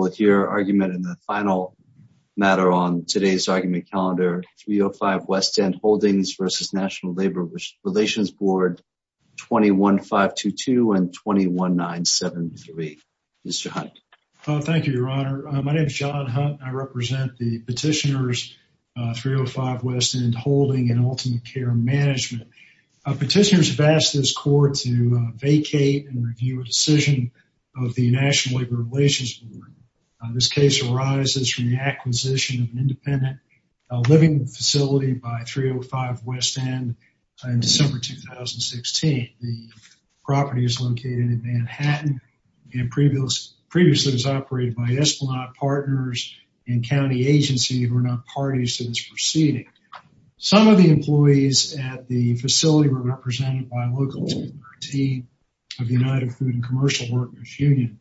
with your argument in the final matter on today's argument calendar, 305 West End Holdings v. National Labor Relations Board, 21-522 and 21-973. Mr. Hunt. Thank you, Your Honor. My name is John Hunt. I represent the petitioners, 305 West End Holding and Ultimate Care Management. Petitioners have asked this court to vacate and review a decision of the National Labor Relations Board. This case arises from the acquisition of an independent living facility by 305 West End in December 2016. The property is located in Manhattan and previously was operated by Esplanade Partners and County Agency who are not parties to this proceeding. Some of the employees at the facility were represented by a local team of United Food and Commercial Workers Union.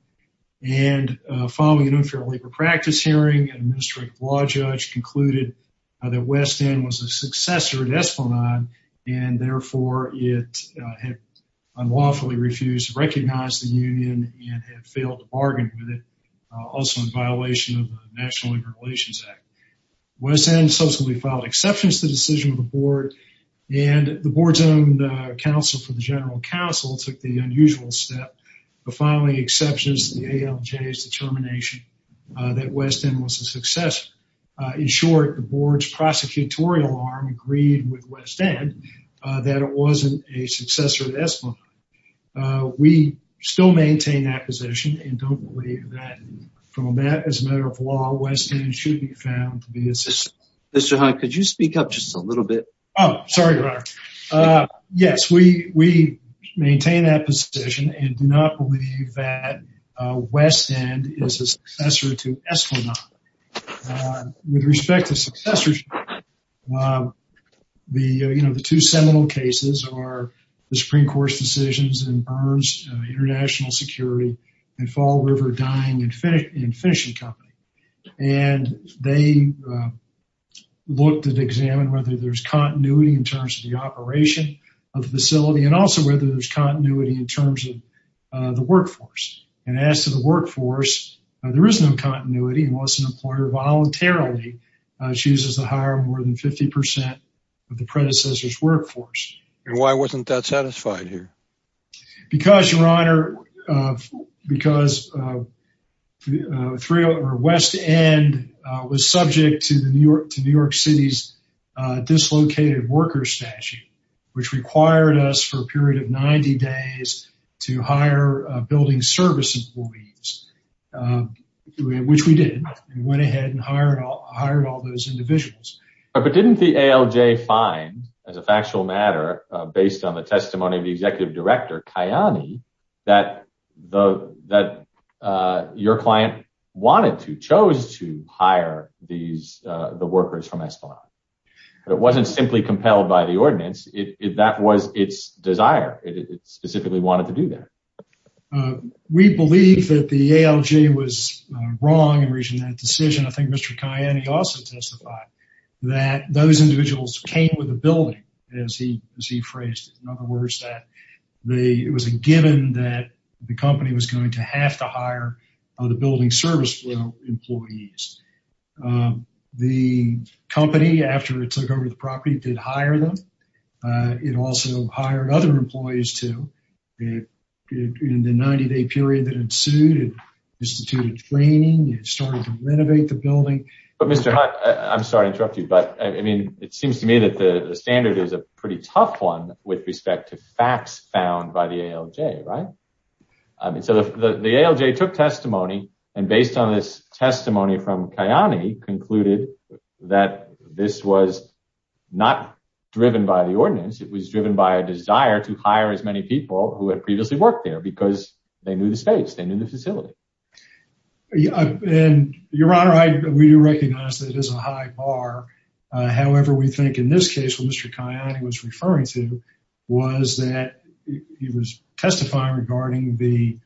And following an unfair labor practice hearing, an administrative law judge concluded that West End was a successor at Esplanade and therefore it had unlawfully refused to recognize the union and had failed to bargain with it, also in violation of the National Labor Relations Act. West End subsequently filed exceptions to the decision of the board and the board's own counsel for the general counsel took the unusual step of filing exceptions to the ALJ's determination that West End was a successor. In short, the board's prosecutorial arm agreed with West End that it wasn't a successor at Esplanade. We still maintain that position and don't believe that from that as law, West End should be found to be a successor. Mr. Hunt, could you speak up just a little bit? Oh, sorry. Yes, we maintain that position and do not believe that West End is a successor to Esplanade. With respect to successors, the two seminal cases are the Supreme Court's decisions in Burns International Security and Fall River Dining and Fishing Company. And they looked at, examined whether there's continuity in terms of the operation of the facility and also whether there's continuity in terms of the workforce. And as to the workforce, there is no continuity unless an employer voluntarily chooses to hire more than 50% of the predecessor's workforce. And why wasn't that satisfied here? Because, Your Honor, because West End was subject to New York City's dislocated worker statute, which required us for a period of 90 days to hire building service employees, which we did. We went ahead and hired all those individuals. But didn't the ALJ find, as a factual matter, based on the testimony of the executive director, Kayani, that your client wanted to, chose to hire the workers from Esplanade? It wasn't simply compelled by the ALJ. It was wrong in reaching that decision. I think Mr. Kayani also testified that those individuals came with the building, as he phrased it. In other words, that it was a given that the company was going to have to hire the building service employees. The company, after it took over the property, did hire them. It also hired other employees too. In the 90-day period that instituted training, it started to renovate the building. But Mr. Hutt, I'm sorry to interrupt you, but I mean, it seems to me that the standard is a pretty tough one with respect to facts found by the ALJ, right? I mean, so the ALJ took testimony, and based on this testimony from Kayani, concluded that this was not driven by the ordinance. It was driven by a desire to hire as a facility. Your Honor, we do recognize that it is a high bar. However, we think in this case, what Mr. Kayani was referring to, was that he was testifying regarding the,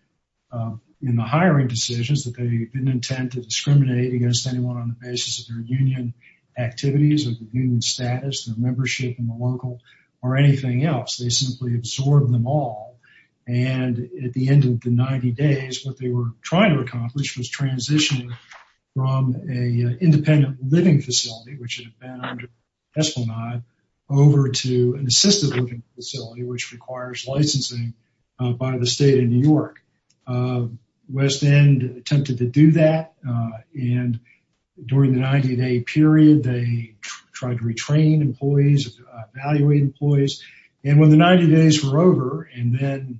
in the hiring decisions, that they didn't intend to discriminate against anyone on the basis of their union activities, or the union status, their membership in the local, or anything else. They simply absorbed them all, and at the end of the 90 days, what they were trying to accomplish was transition from an independent living facility, which had been under Esplanade, over to an assisted living facility, which requires licensing by the state of New York. West End attempted to do that, and during the 90-day period, they tried to retrain employees, evaluate employees, and when the 90 days were over, and then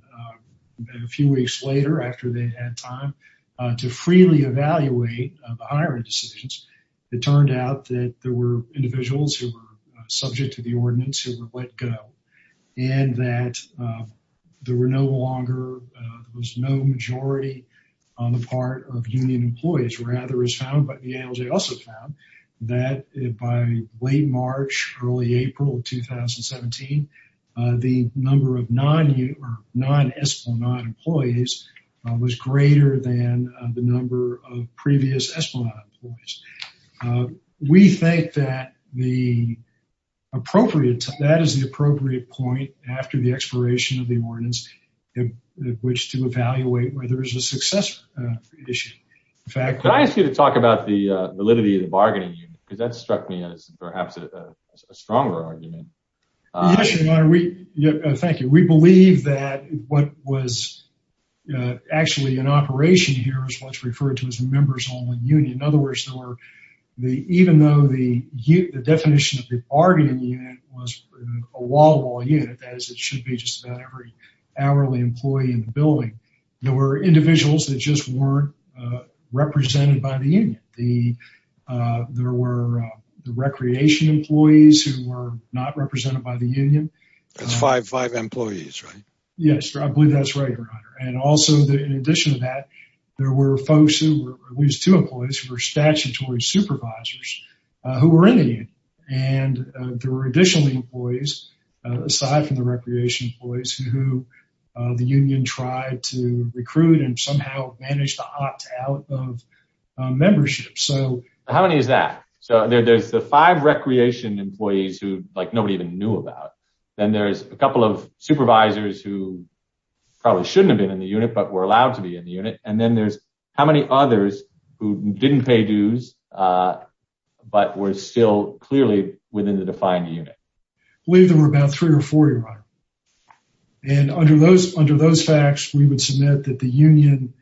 a few weeks later, after they had time to freely evaluate the hiring decisions, it turned out that there were individuals who were subject to the ordinance, who were let go, and that there were no longer, there was no majority on the part of union employees. Rather, as found by, the ALJ also found, that by late March, early April of 2017, the number of non-union, or non-Esplanade employees was greater than the number of previous Esplanade employees. We think that the appropriate, that is the appropriate point after the expiration of the ordinance, in which to evaluate whether it's a successful issue. In fact, could I ask you to talk about the validity of the bargaining unit, because that struck me as perhaps a stronger argument. Yes, your honor, we, thank you, we believe that what was actually an operation here is what's referred to as a member's only union. In other words, there were the, even though the definition of the bargaining unit was a wall-to-wall unit, that is, it should be just about every hourly employee in the building, there were individuals that just weren't represented by the union. The, there were the recreation employees who were not represented by the union. That's five, five employees, right? Yes, I believe that's right, your honor. And also, in addition to that, there were folks who were, at least two employees, who were statutory supervisors, who were in the union. And there were additional employees, aside from the recreation employees, who the union tried to recruit and somehow managed to opt out of membership. So, how many is that? So, there's the five recreation employees who, like, nobody even knew about, then there's a couple of supervisors who probably shouldn't have been in the unit, but were allowed to be in the unit, and then there's how many others who didn't pay dues, but were still clearly within the defined unit? I believe there were about three or four, your honor. And under those, under those facts, we would submit that the union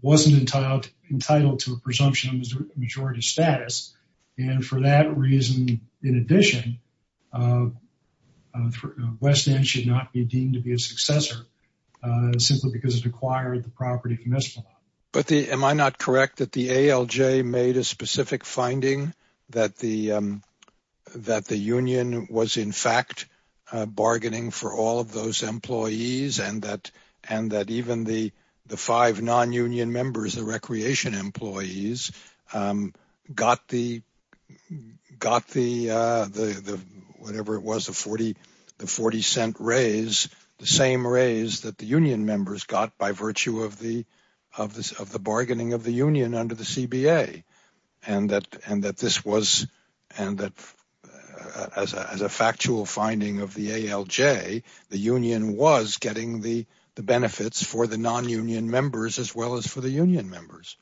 wasn't entitled, entitled to a presumption of majority status. And for that reason, in addition, West End should not be deemed to be a successor, simply because it acquired the property commissible. But the, am I not correct that the ALJ made a specific finding that the, that the union was, in fact, bargaining for all of those employees and that, and that even the, the five non-union members, the recreation employees, got the, got the, whatever it was, the 40, the 40 cent raise, the same raise that the union members got by virtue of the, bargaining of the union under the CBA. And that, and that this was, and that as a, as a factual finding of the ALJ, the union was getting the, the benefits for the non-union members, as well as for the union members.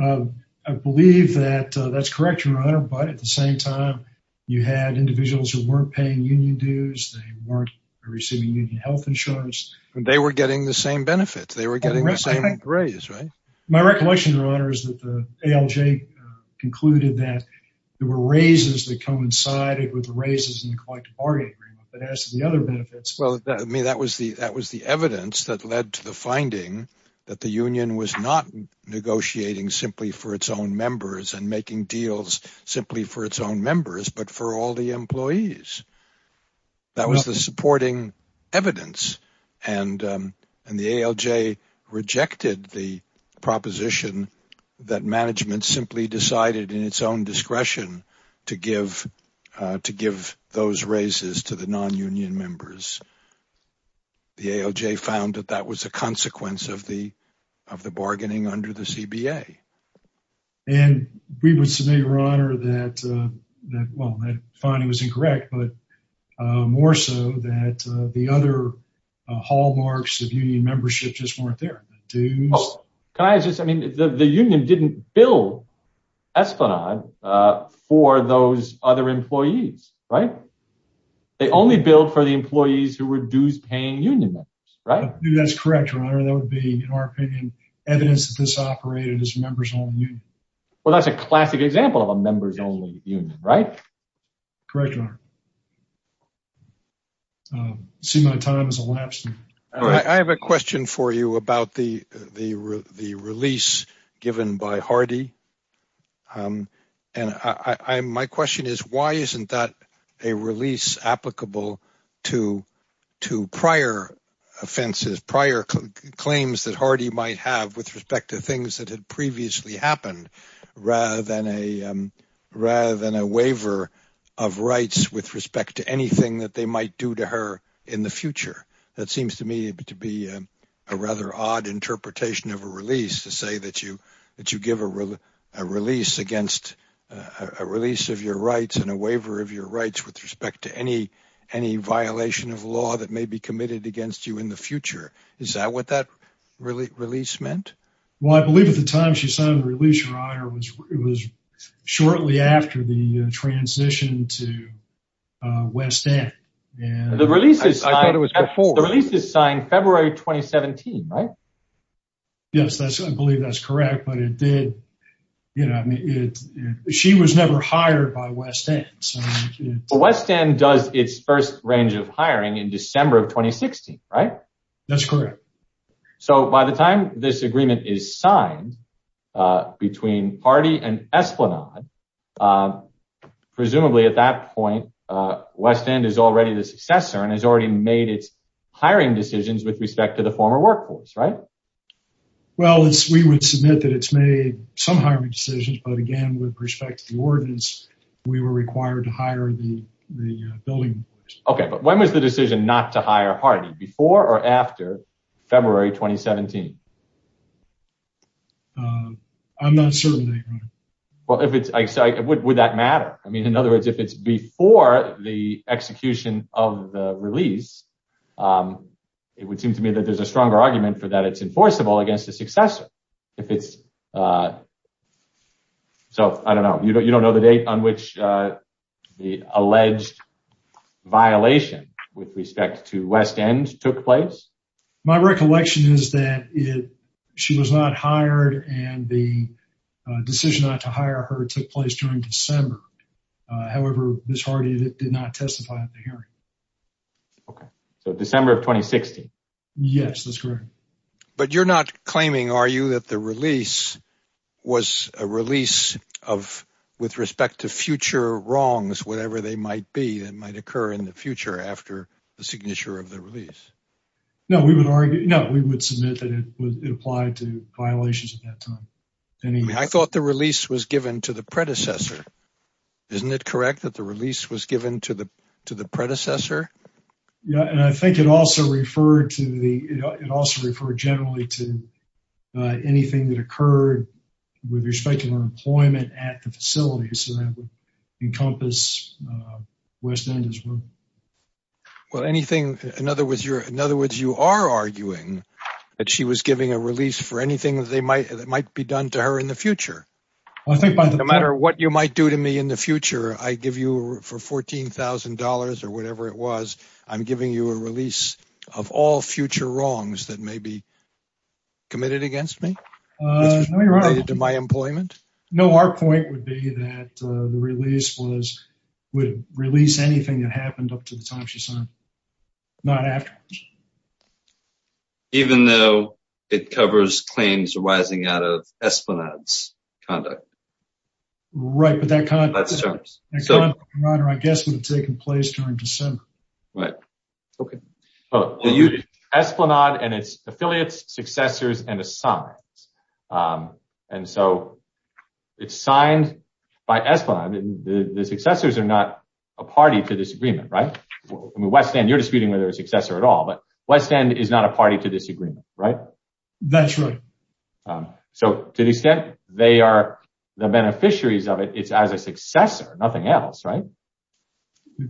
I believe that that's correct, your honor. But at the same time, you had individuals who weren't paying union dues. They weren't receiving union health insurance. They were getting the same benefits. They were getting the same raise, right? My recollection, your honor, is that the ALJ concluded that there were raises that coincided with the raises in the collective bargaining agreement, but as to the other benefits. Well, I mean, that was the, that was the evidence that led to the finding that the union was not negotiating simply for its own members and making deals simply for its own the proposition that management simply decided in its own discretion to give, to give those raises to the non-union members. The ALJ found that that was a consequence of the, of the bargaining under the CBA. And we would submit, your honor, that, that, well, that finding was incorrect, but more so that the other hallmarks of union membership just weren't there. Can I just, I mean, the union didn't bill Esplanade for those other employees, right? They only billed for the employees who were dues-paying union members, right? That's correct, your honor. That would be, in our opinion, evidence that this operated as a members-only union. Well, that's a classic example of a members-only union, right? Correct, your honor. I see my time has elapsed. I have a question for you about the, the, the release given by Hardy. And I, I, my question is, why isn't that a release applicable to, to prior offenses, prior claims that Hardy might have with respect to things that had previously happened, rather than a, rather than a waiver of rights with respect to anything that they might do to her in the future? That seems to me to be a rather odd interpretation of a release to say that you, that you give a release against, a release of your rights and a waiver of your rights with respect to any, any violation of law that may be committed against you in the future. Is that what that release meant? Well, I believe at the time she signed the release, your honor, was, it was shortly after the transition to West End. The release is signed, the release is signed February 2017, right? Yes, that's, I believe that's correct. But it did, you know, I mean, it, she was never hired by West End. West End does its first range of hiring in December of 2016, right? That's correct. So by the time this agreement is signed between Hardy and Esplanade, presumably at that point, West End is already the successor and has already made its hiring decisions with respect to the former workforce, right? Well, it's, we would submit that it's made some hiring decisions, but again, with respect to the ordinance, we were required to hire the, the building. Okay, but when was the decision not to hire Hardy, before or after February 2017? I'm not certain, your honor. Well, if it's, would that matter? I mean, in other words, if it's before the execution of the release, it would seem to me that there's a stronger argument for that it's enforceable against the successor. If it's, so I don't know, you don't know the date on which the alleged violation with respect to West End took place? My recollection is that it, she was not hired and the decision not to hire her took place during December. However, Ms. Hardy did not testify at the hearing. Okay. So December of 2016? Yes, that's correct. But you're not claiming, are you, that the release was a release of, with respect to in the future after the signature of the release? No, we would argue, no, we would submit that it was, it applied to violations at that time. I thought the release was given to the predecessor. Isn't it correct that the release was given to the, to the predecessor? Yeah, and I think it also referred to the, it also referred generally to anything that occurred with respect to her employment at the facility. So that would encompass West End as well. Well, anything, in other words, you're, in other words, you are arguing that she was giving a release for anything that they might, that might be done to her in the future. No matter what you might do to me in the future, I give you for $14,000 or whatever it was, I'm giving you a release of all future wrongs that may be committed against me? Related to my employment? No, our point would be that the release was, would release anything that happened up to the time she signed, not afterwards. Even though it covers claims arising out of Esplanade's conduct? Right, but that kind of conduct, I guess, would have taken place during December. Right. Okay. So Esplanade and its affiliates, successors, and assigns. And so it's signed by Esplanade, the successors are not a party to this agreement, right? I mean, West End, you're disputing whether they're a successor at all, but West End is not a party to this agreement, right? That's right. So to the extent they are the beneficiaries of it, it's as a successor, nothing else, right?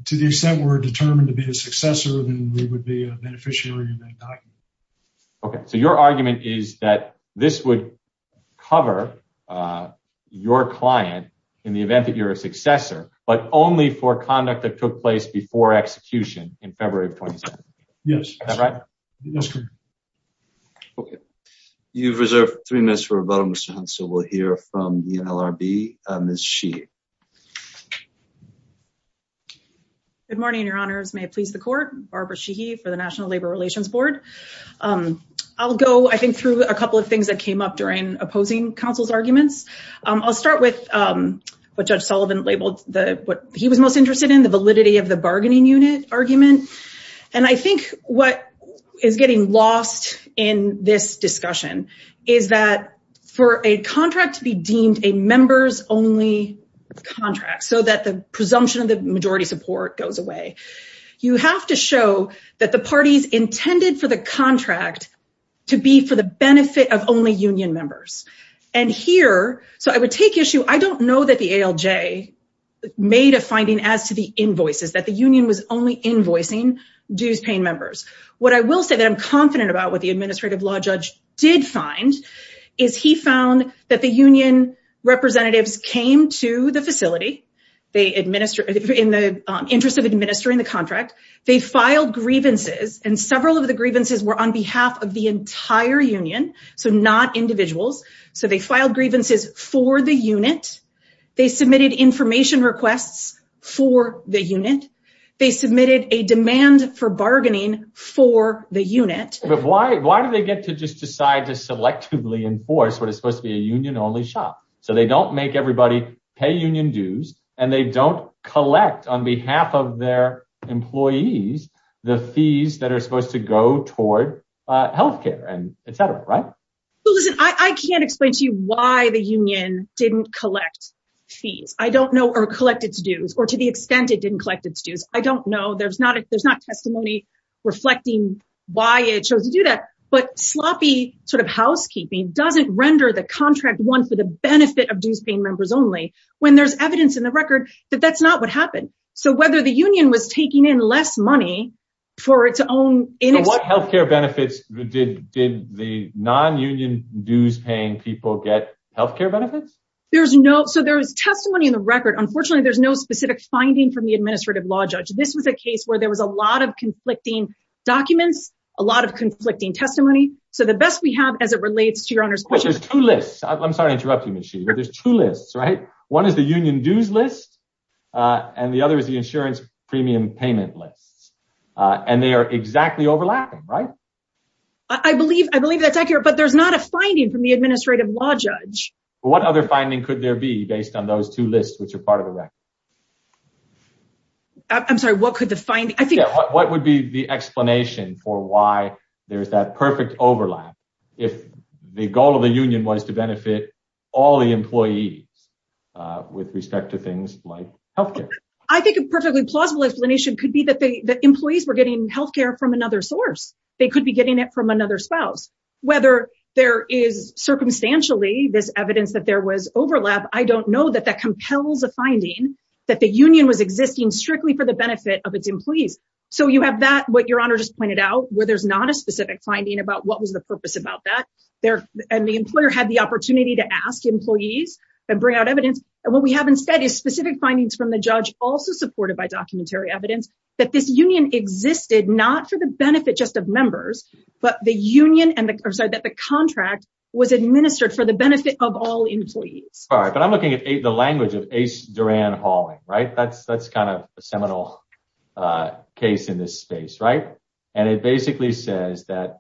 To the extent we're determined to be a successor, then we would be a beneficiary of that document. Okay. So your argument is that this would cover your client in the event that you're a successor, but only for conduct that took place before execution in February of 2017? Yes. Is that right? That's correct. Okay. You've reserved three minutes for rebuttal, Mr. Hunt. So we'll hear from the NLRB, Ms. Sheehan. Good morning, Your Honors. May it please the Court. Barbara Sheehan for the National Labor Relations Board. I'll go, I think, through a couple of things that came up during opposing counsel's arguments. I'll start with what Judge Sullivan labeled what he was most interested in, the validity of the bargaining unit argument. And I think what is getting lost in this discussion is that for a contract to be deemed a members-only contract, so that the presumption of the majority support goes away, you have to show that the parties intended for the contract to be for the benefit of only union members. And here, so I would take issue, I don't know that the ALJ made a finding as to the invoices, that the union was only invoicing dues-paying members. What I will say that I'm confident about what the Administrative Law Judge did find is he found that the union representatives came to the facility in the interest of administering the contract. They filed grievances, and several of the grievances were on behalf of the entire union, so not individuals. So they filed grievances for the unit. They submitted information requests for the unit. They submitted a demand for bargaining for the unit. But why do they get to just decide to selectively enforce what is supposed to be a union-only shop? So they don't make everybody pay union dues, and they don't collect on behalf of their employees the fees that are supposed to go toward health care and etc., right? Listen, I can't explain to didn't collect fees. I don't know, or collect its dues, or to the extent it didn't collect its dues. I don't know. There's not testimony reflecting why it chose to do that. But sloppy sort of housekeeping doesn't render the contract one for the benefit of dues-paying members only when there's evidence in the record that that's not what happened. So whether the union was taking in less money for its own... So what health care benefits did the non-union dues-paying people get health care benefits? There's no... So there's testimony in the record. Unfortunately, there's no specific finding from the administrative law judge. This was a case where there was a lot of conflicting documents, a lot of conflicting testimony. So the best we have as it relates to your honor's question... There's two lists. I'm sorry to interrupt you, Ms. Sheever. There's two lists, right? One is the union dues list, and the other is the insurance premium payment list, and they are exactly overlapping, right? I believe that's accurate, but there's not a What other finding could there be based on those two lists, which are part of the record? I'm sorry, what could the finding... What would be the explanation for why there's that perfect overlap if the goal of the union was to benefit all the employees with respect to things like health care? I think a perfectly plausible explanation could be that the employees were getting health care from another source. They could be getting it from another spouse. Whether there is circumstantially this evidence that there was overlap, I don't know that that compels a finding that the union was existing strictly for the benefit of its employees. So you have that, what your honor just pointed out, where there's not a specific finding about what was the purpose about that, and the employer had the opportunity to ask employees and bring out evidence. And what we have instead is specific findings from the judge, also supported by documentary evidence, that this union existed not for the benefit just of members, but that the contract was administered for the benefit of all employees. All right, but I'm looking at the language of Ace Duran-Halling, right? That's kind of a seminal case in this space, right? And it basically says that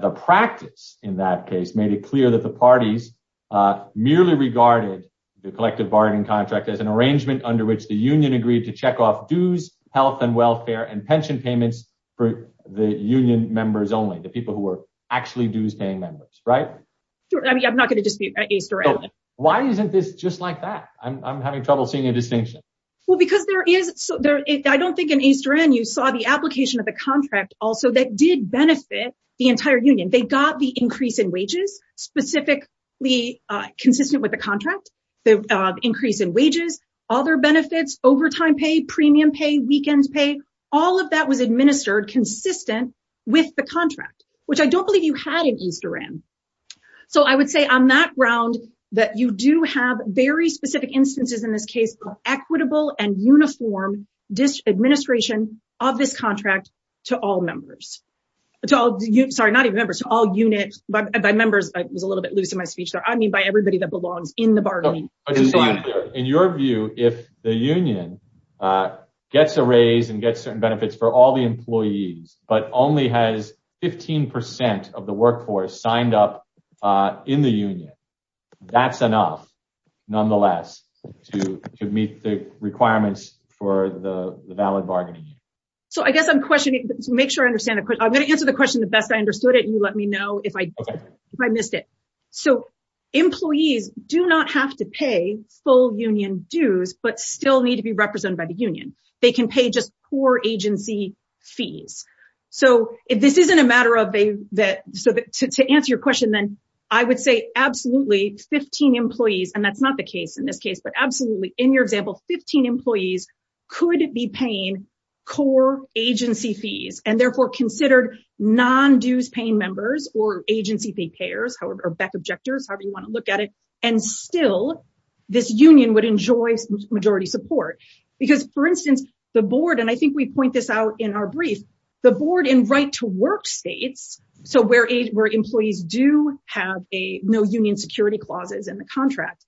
the practice in that case made it clear that the parties merely regarded the collective bargain contract as an arrangement under which the union agreed to check off dues, health and welfare, and pension payments for the union members only, the people who were actually dues-paying members, right? I mean, I'm not going to dispute Ace Duran. Why isn't this just like that? I'm having trouble seeing a distinction. Well, because there is, I don't think in Ace Duran you saw the application of the contract also that did benefit the entire union. They got the increase in wages, specifically consistent with the contract, the increase in wages, other benefits, overtime pay, premium pay, weekend pay, all of that was administered consistent with the contract, which I don't believe you had in Ace Duran. So I would say on that ground that you do have very specific instances in this case of equitable and uniform administration of this contract to all members. Sorry, not even members, to all units, by members. I was a little bit loose in my speech there. I mean, by everybody that belongs in the bargaining. In your view, if the union gets a raise and gets certain benefits for all the employees, but only has 15 percent of the workforce signed up in the union, that's enough, nonetheless, to meet the requirements for the valid bargaining. So I guess I'm questioning, to make sure I understand, I'm going to answer the question the best I understood it. You let me know if I missed it. So employees do not have to pay full union dues, but still need to be represented by the union. They can pay just core agency fees. So if this isn't a matter of that, so to answer your question, then I would say absolutely 15 employees, and that's not the case in this case, but absolutely in your example, 15 employees could be paying core agency fees and therefore considered non-dues-paying members or agency payers or back objectors, however you want to look at it, and still this union would enjoy majority support. Because, for instance, the board, and I think we point this out in our brief, the board in right-to-work states, so where employees do have no union security clauses in the contract,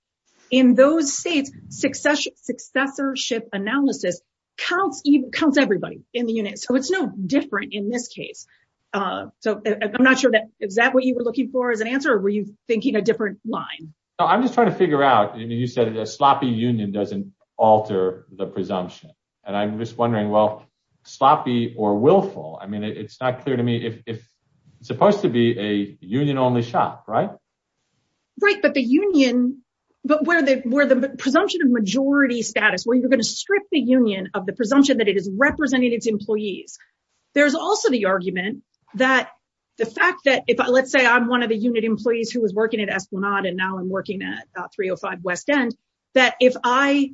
in those states, successorship analysis counts everybody in the unit. So it's no different in this case. So I'm not sure that, is that what you were looking for as an answer, or were you thinking a different line? No, I'm just trying to figure out, I mean, you said a sloppy union doesn't alter the presumption, and I'm just wondering, well, sloppy or willful, I mean, it's not clear to me if it's supposed to be a union-only shop, right? Right, but the union, but where the presumption of majority status, where you're going to strip the union of the presumption that it is representing its employees, there's also the argument that the fact that if, let's say I'm one of the unit employees who was working at Esplanade and now I'm working at 305 West End, that if I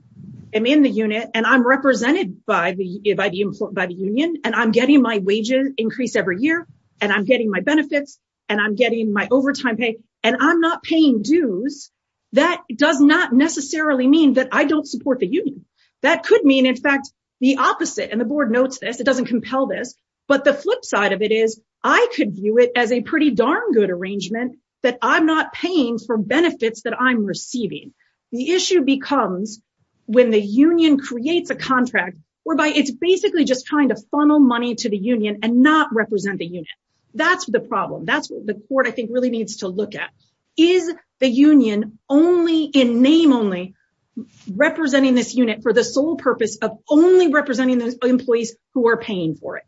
am in the unit and I'm represented by the union, and I'm getting my wages increased every year, and I'm getting my benefits, and I'm getting my benefits, and I'm not paying dues, that does not necessarily mean that I don't support the union. That could mean, in fact, the opposite, and the board notes this, it doesn't compel this, but the flip side of it is I could view it as a pretty darn good arrangement that I'm not paying for benefits that I'm receiving. The issue becomes when the union creates a contract whereby it's basically just trying to funnel money to the union and not represent the unit. That's the problem. That's what the court, I think, really needs to look at. Is the union only in name only representing this unit for the sole purpose of only representing the employees who are paying for it?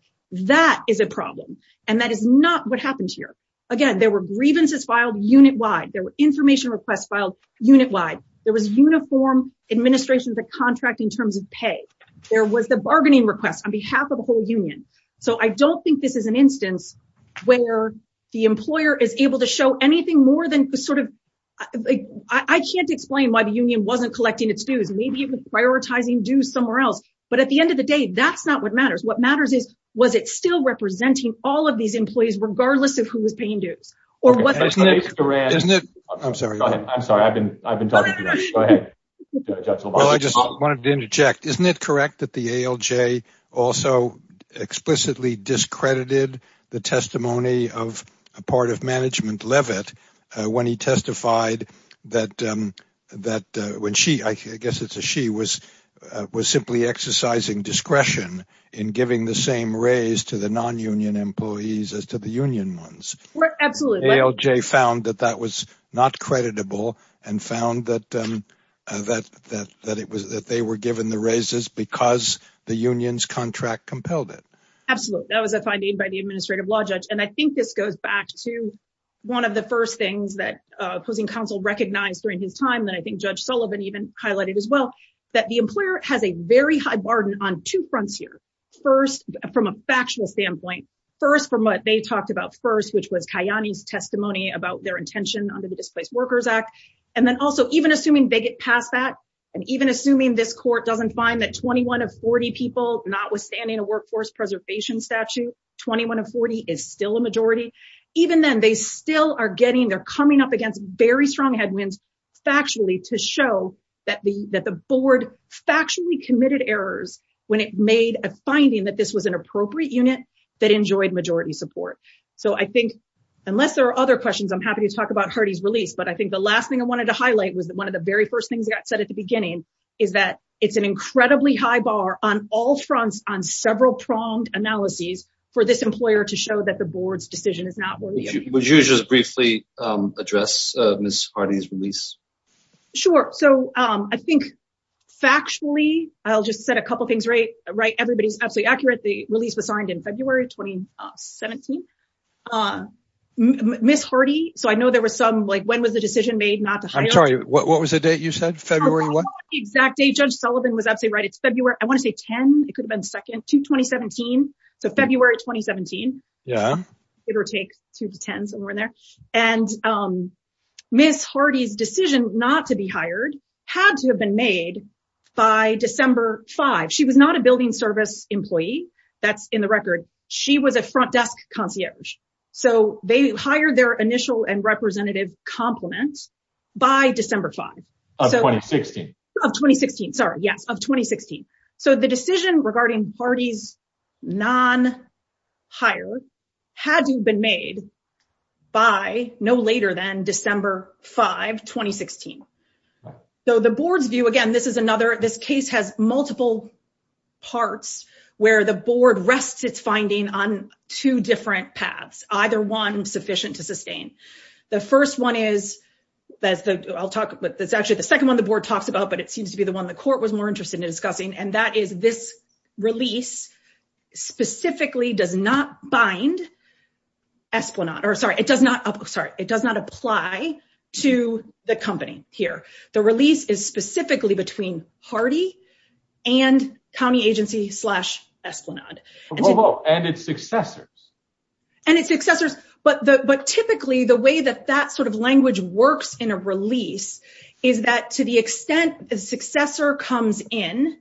That is a problem, and that is not what happens here. Again, there were grievances filed unit-wide. There were information requests filed unit-wide. There was uniform administration of the contract in terms of pay. There was the bargaining request on behalf of the whole union. I don't think this is an instance where the employer is able to show anything more than I can't explain why the union wasn't collecting its dues. Maybe it was prioritizing dues somewhere else, but at the end of the day, that's not what matters. What matters is, was it still representing all of these employees regardless of who was paying dues? I'm sorry, I've been talking to you. Go ahead, Judge LaValle. Well, I just wanted to interject. Isn't it correct that the ALJ also explicitly discredited the testimony of a part of management, Levitt, when he testified that when she, I guess it's a she, was simply exercising discretion in giving the same raise to the non-union employees as to the union ones? Absolutely. ALJ found that that was not creditable and found that they were given the raises because the union's contract compelled it. Absolutely. That was a finding by the administrative law judge. I think this goes back to one of the first things that opposing counsel recognized during his time that I think Judge Sullivan even highlighted as well, that the employer has a very high burden on two fronts here. First, from a factual standpoint. First, from what they talked about first, which was Kayani's Displaced Workers Act. And then also, even assuming they get past that and even assuming this court doesn't find that 21 of 40 people, notwithstanding a workforce preservation statute, 21 of 40 is still a majority. Even then, they still are coming up against very strong headwinds factually to show that the board factually committed errors when it made a finding that this was an appropriate unit that enjoyed majority support. So I think, unless there are other questions, I'm happy to talk about Hardy's release. But I think the last thing I wanted to highlight was that one of the very first things that got said at the beginning is that it's an incredibly high bar on all fronts on several pronged analyses for this employer to show that the board's decision is not worthy. Would you just briefly address Ms. Hardy's release? Sure. So I think factually, I'll just set a couple things right. Everybody's absolutely correct. The release was signed in February 2017. Ms. Hardy, so I know there was some, like, when was the decision made not to hire? I'm sorry, what was the date you said? February what? The exact date. Judge Sullivan was absolutely right. It's February, I want to say 10. It could have been 2, 2017. So February 2017. Yeah. Give or take 2 to 10, somewhere in there. And Ms. Hardy's decision not to be hired had to have been made by December 5. She was not a building service employee. That's in the record. She was a front desk concierge. So they hired their initial and representative compliment by December 5. Of 2016. Of 2016, sorry. Yes, of 2016. So the decision regarding Hardy's non-hire had to have been made by no later than December 5, 2016. So the board's view, again, this is another, this case has multiple parts where the board rests its finding on two different paths, either one sufficient to sustain. The first one is, that's the, I'll talk, that's actually the second one the board talks about, but it seems to be the one the court was more interested in discussing, and that is this release specifically does not bind Esplanade, or sorry, it does not, sorry, it does not apply to the company here. The release is specifically between Hardy and county agency slash Esplanade. And its successors. And its successors, but typically the way that that sort of language works in a release is that to the extent the successor comes in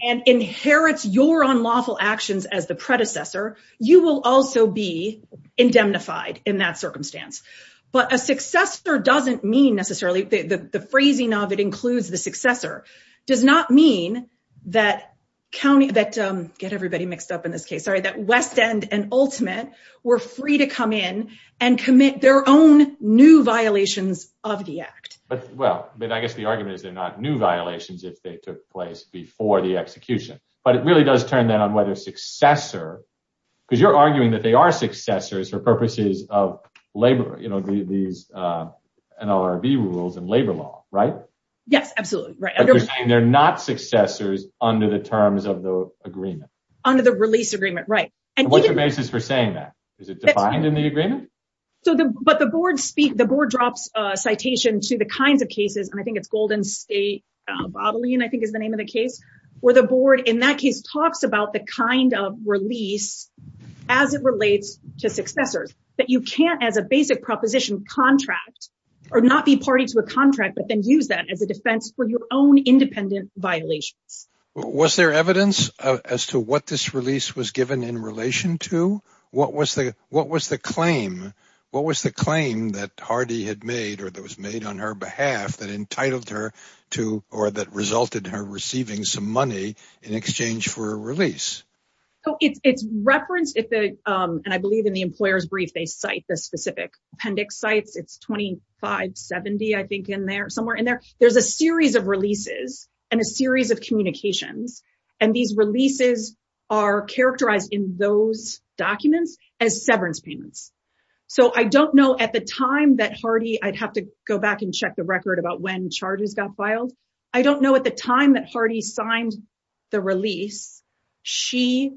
and inherits your unlawful actions as the predecessor, you will also be indemnified in that circumstance. But a successor doesn't mean necessarily, the phrasing of it includes the successor, does not mean that county, that, get everybody mixed up in this case, sorry, that West End and Ultimate were free to come in and commit their own new violations of the act. But well, but I guess the argument is they're not new violations if they took place before the execution. But it really does turn that on their successor, because you're arguing that they are successors for purposes of labor, you know, these NLRB rules and labor law, right? Yes, absolutely, right. They're not successors under the terms of the agreement. Under the release agreement, right. And what's the basis for saying that? Is it defined in the agreement? So the, but the board speak, the board drops a citation to the kinds of cases, and I think it's Golden State, Bobilene, I think is the name of the case, where the board in that case talks about the kind of release, as it relates to successors, that you can't as a basic proposition contract, or not be party to a contract, but then use that as a defense for your own independent violations. Was there evidence as to what this release was given in relation to? What was the, what was the claim? What was the claim that Hardy had made, or that was made on her behalf that entitled her to, or that resulted in her receiving some money in exchange for a release? So it's referenced if the, and I believe in the employer's brief, they cite the specific appendix sites, it's 2570, I think in there, somewhere in there, there's a series of releases, and a series of communications. And these releases are characterized in those documents as severance payments. So I don't know at the time that Hardy, I'd have to go back and check the record about when charges got filed. I don't know at the time that Hardy signed the release, she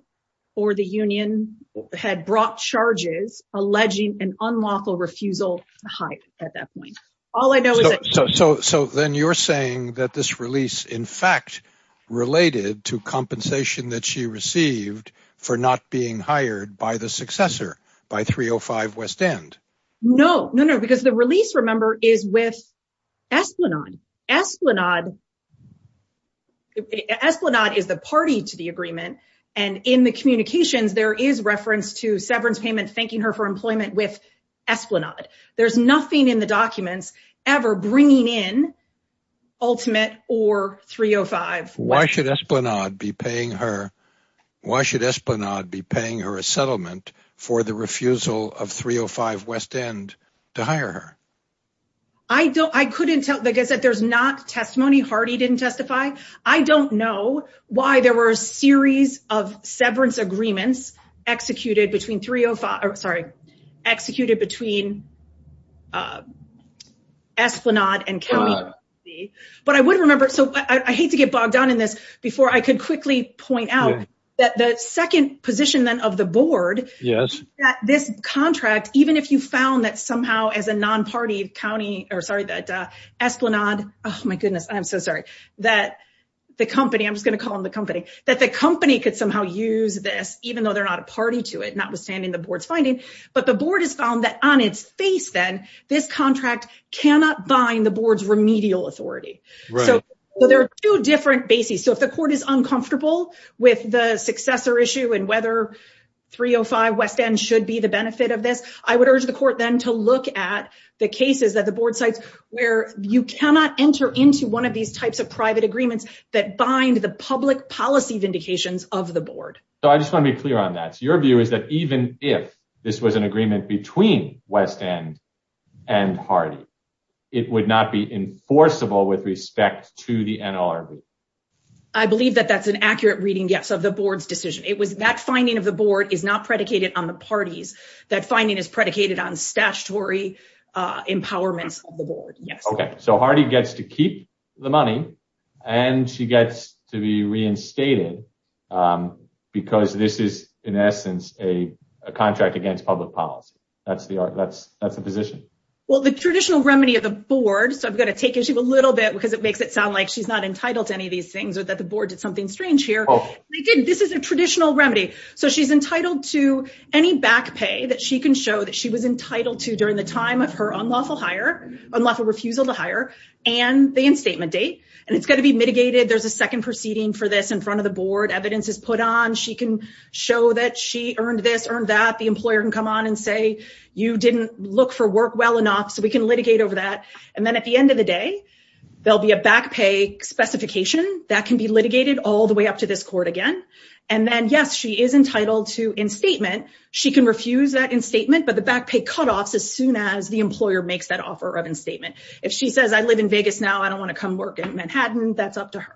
or the union had brought charges alleging an unlawful refusal to hide at that point. All I know is that- So then you're saying that this release, in fact, related to not being hired by the successor, by 305 West End? No, no, no, because the release, remember, is with Esplanade. Esplanade, Esplanade is the party to the agreement. And in the communications, there is reference to severance payment thanking her for employment with Esplanade. There's nothing in the documents ever bringing in Ultimate or 305 West End. Why should Esplanade be paying her? Why should Esplanade be paying her a settlement for the refusal of 305 West End to hire her? I couldn't tell because there's not testimony Hardy didn't testify. I don't know why there were a series of severance agreements executed between 305, sorry, executed between Esplanade and Kelly. But I would remember, so I hate to get bogged down in this, before I could quickly point out that the second position then of the board is that this contract, even if you found that somehow as a non-party county, or sorry, that Esplanade, oh my goodness, I'm so sorry, that the company, I'm just going to call them the company, that the company could somehow use this, even though they're not a party to it, notwithstanding the board's finding. But the board has found that on its face then, this contract cannot bind the board's remedial authority. So there are two different bases. So if the court is uncomfortable with the successor issue and whether 305 West End should be the benefit of this, I would urge the court then to look at the cases that the board cites where you cannot enter into one of these types of private agreements that bind the public policy vindications of the board. So I just want to be clear on that. Your view is that even if this was an agreement between West End and Hardy, it would not be enforceable with respect to the NLRB? I believe that that's an accurate reading, yes, of the board's decision. It was that finding of the board is not predicated on the parties. That finding is predicated on statutory empowerments of the board, yes. Okay, so Hardy gets to keep the money and she gets to be reinstated because this is in essence a contract against public policy. That's the position? Well, the traditional remedy of the board, so I've got to take issue a little bit because it makes it sound like she's not entitled to any of these things or that the board did something strange here. This is a traditional remedy. So she's entitled to any back pay that she can show that she was entitled to during the time of her unlawful refusal to hire and the instatement date. And it's got to be mitigated. There's a second proceeding for this in front of the board. Evidence is put on. She can show that she earned this, earned that. The employer can come on and say, you didn't look for work well enough, so we can litigate over that. And then at the end of the day, there'll be a back pay specification that can be litigated all the way up to this court again. And then yes, she is entitled to instatement. She can refuse that instatement, but the back pay cutoffs as soon as the employer makes that offer of instatement. If she says, I live in Vegas now, I don't want to come work in Manhattan, that's up to her.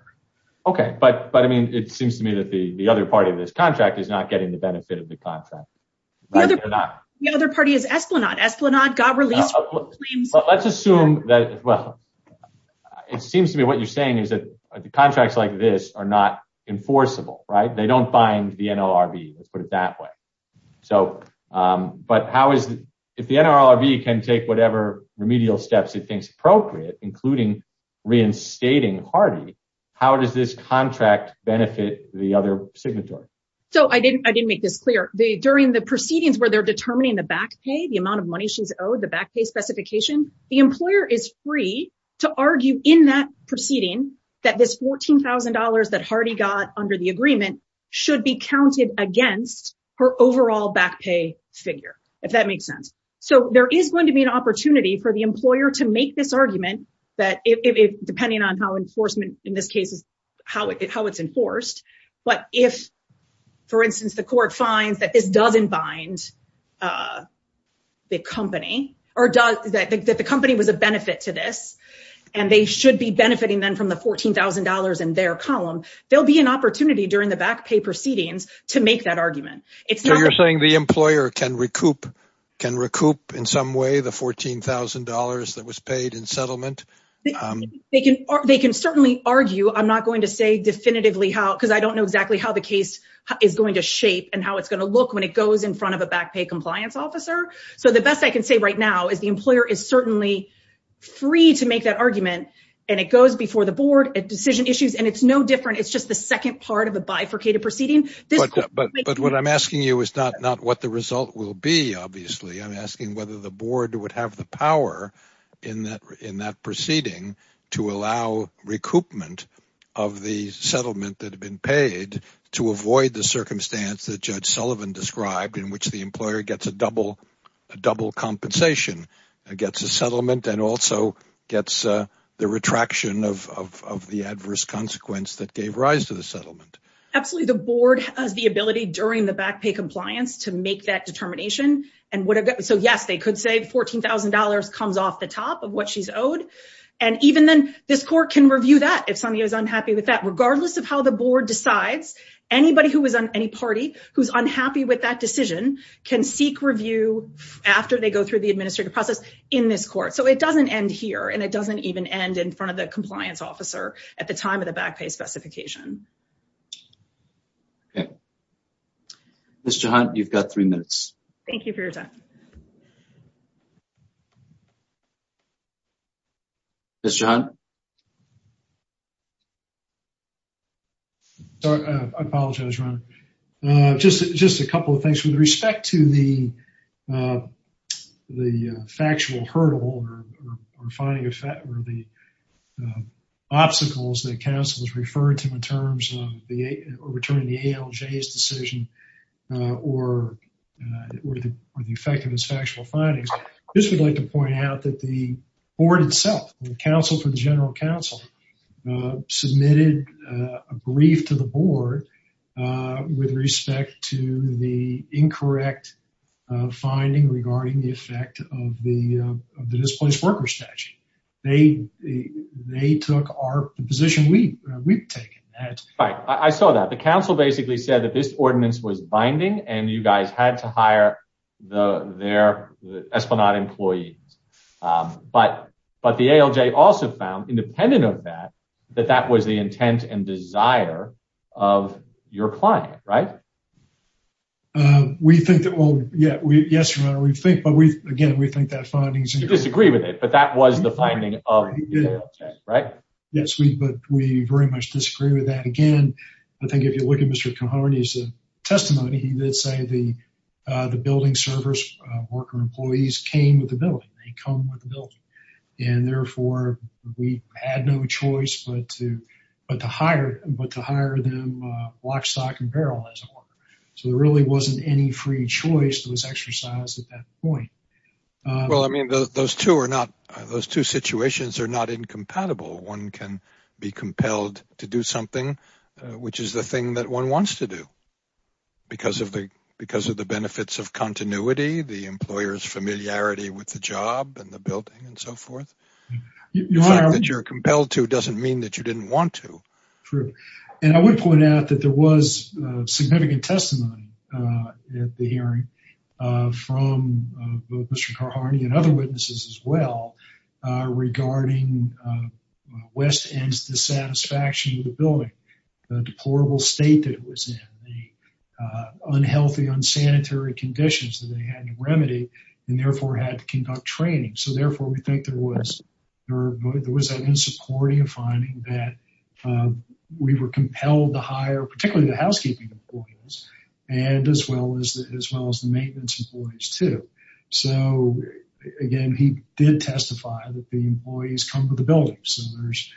Okay, but I mean, it seems to me that the other part of this contract is not getting the benefit of the contract. The other party is Esplanade. Esplanade got released. Well, let's assume that, well, it seems to me what you're saying is that the contracts like this are not enforceable, right? They don't bind the NLRB, let's put it that way. So, but how is, if the NLRB can take whatever remedial steps it thinks appropriate, including reinstating Hardy, how does this during the proceedings where they're determining the back pay, the amount of money she's owed, the back pay specification, the employer is free to argue in that proceeding that this $14,000 that Hardy got under the agreement should be counted against her overall back pay figure, if that makes sense. So, there is going to be an opportunity for the employer to make this argument that depending on how enforcement in this case is, how it's enforced. But if, for instance, the court finds that this doesn't bind the company or that the company was a benefit to this and they should be benefiting then from the $14,000 in their column, there'll be an opportunity during the back pay proceedings to make that argument. So, you're saying the employer can recoup in some way the $14,000 that was paid in settlement? They can certainly argue. I'm not going to say definitively how, because I don't know exactly how the case is going to shape and how it's going to look when it goes in front of a back pay compliance officer. So, the best I can say right now is the employer is certainly free to make that argument and it goes before the board at decision issues and it's no different. It's just the second part of a bifurcated proceeding. But what I'm asking you is not what the result will be, obviously. I'm asking whether the board would have the power in that proceeding to allow recoupment of the settlement that had been paid to avoid the circumstance that Judge Sullivan described in which the employer gets a double compensation, gets a settlement, and also gets the retraction of the adverse consequence that gave rise to the settlement. Absolutely. The board has the ability during the back pay compliance to make that determination. So, yes, they could say $14,000 comes off the top of what she's owed. And even then, this court can review that if somebody is unhappy with that, regardless of how the board decides. Anybody who was on any party who's unhappy with that decision can seek review after they go through the administrative process in this court. So, it doesn't end here and it doesn't even end in front of the compliance officer at the time of the back pay specification. Okay. Ms. Jehunt, you've got three minutes. Thank you for your time. Ms. Jehunt? I apologize, Ron. Just a couple of things. With respect to the return of the ALJ's decision or the effectiveness of factual findings, I just would like to point out that the board itself, the counsel for the general counsel, submitted a brief to the board with respect to the incorrect finding regarding the effect of the displaced workers statute. They took our position. We've taken that. Right. I saw that. The counsel basically said that this ordinance was binding and you guys had to hire their Esplanade employees. But the ALJ also found, independent of that, that that was the intent and desire of your client, right? We think that, well, yes, Your Honor, we think, but again, we think that finding's the finding of the ALJ, right? Yes, but we very much disagree with that. Again, I think if you look at Mr. Cahoney's testimony, he did say the building servers, worker employees, came with the building. They come with the building. And therefore, we had no choice but to hire them block, stock, and barrel as a worker. So there really wasn't any free choice that was exercised at that point. Well, I mean, those two are not, those two situations are not incompatible. One can be compelled to do something, which is the thing that one wants to do because of the benefits of continuity, the employer's familiarity with the job and the building and so forth. The fact that you're compelled to doesn't mean that you didn't want to. True. And I would point out that there was significant testimony at the hearing from both Mr. Cahoney and other witnesses as well regarding West End's dissatisfaction with the building, the deplorable state that it was in, the unhealthy, unsanitary conditions that they had to remedy and therefore had to conduct training. So therefore, we think there was an insecurity of finding that we were compelled to hire particularly the housekeeping employees and as well as the maintenance employees too. So again, he did testify that the employees come with the building servers.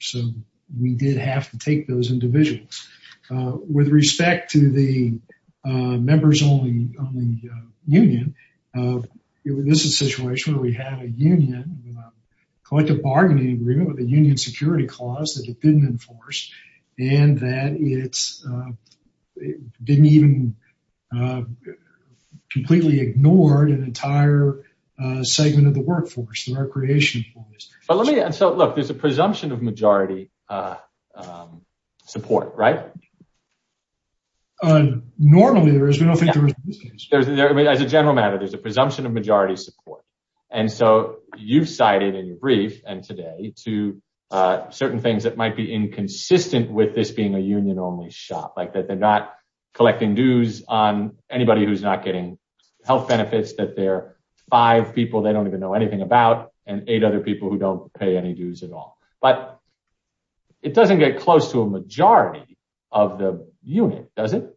So we did have to take those individuals. With respect to the collective bargaining agreement with the union security clause that it didn't enforce and that it didn't even completely ignored an entire segment of the workforce, the recreation force. But let me, and so look, there's a presumption of majority support, right? Normally there is, we don't think there is. As a general matter, there's a presumption of brief and today to certain things that might be inconsistent with this being a union only shop, like that they're not collecting dues on anybody who's not getting health benefits, that there are five people they don't even know anything about and eight other people who don't pay any dues at all. But it doesn't get close to a majority of the unit, does it?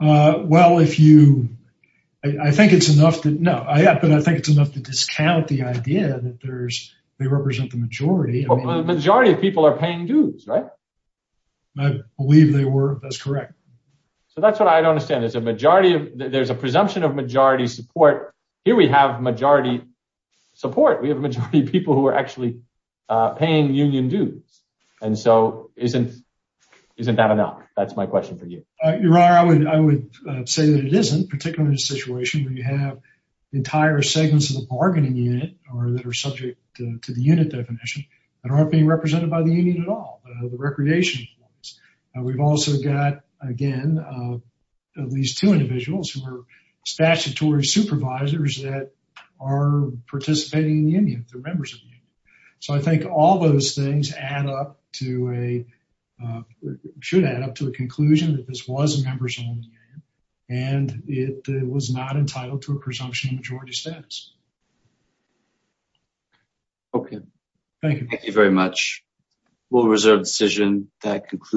Well, if you, I think it's no, but I think it's enough to discount the idea that they represent the majority. The majority of people are paying dues, right? I believe they were, that's correct. So that's what I don't understand. There's a majority of, there's a presumption of majority support. Here we have majority support. We have a majority of people who are actually paying union dues. And so isn't that enough? That's my question for you. Your Honor, I would say that it isn't, particularly in a situation where you have entire segments of the bargaining unit or that are subject to the unit definition that aren't being represented by the union at all, the recreation. We've also got, again, at least two individuals who are statutory supervisors that are participating in the union, they're members of the union. So I think all those things add up to a, should add up to a conclusion that this was a members-only union, and it was not entitled to a presumption of majority status. Okay. Thank you. Thank you very much. We'll reserve decision. That concludes.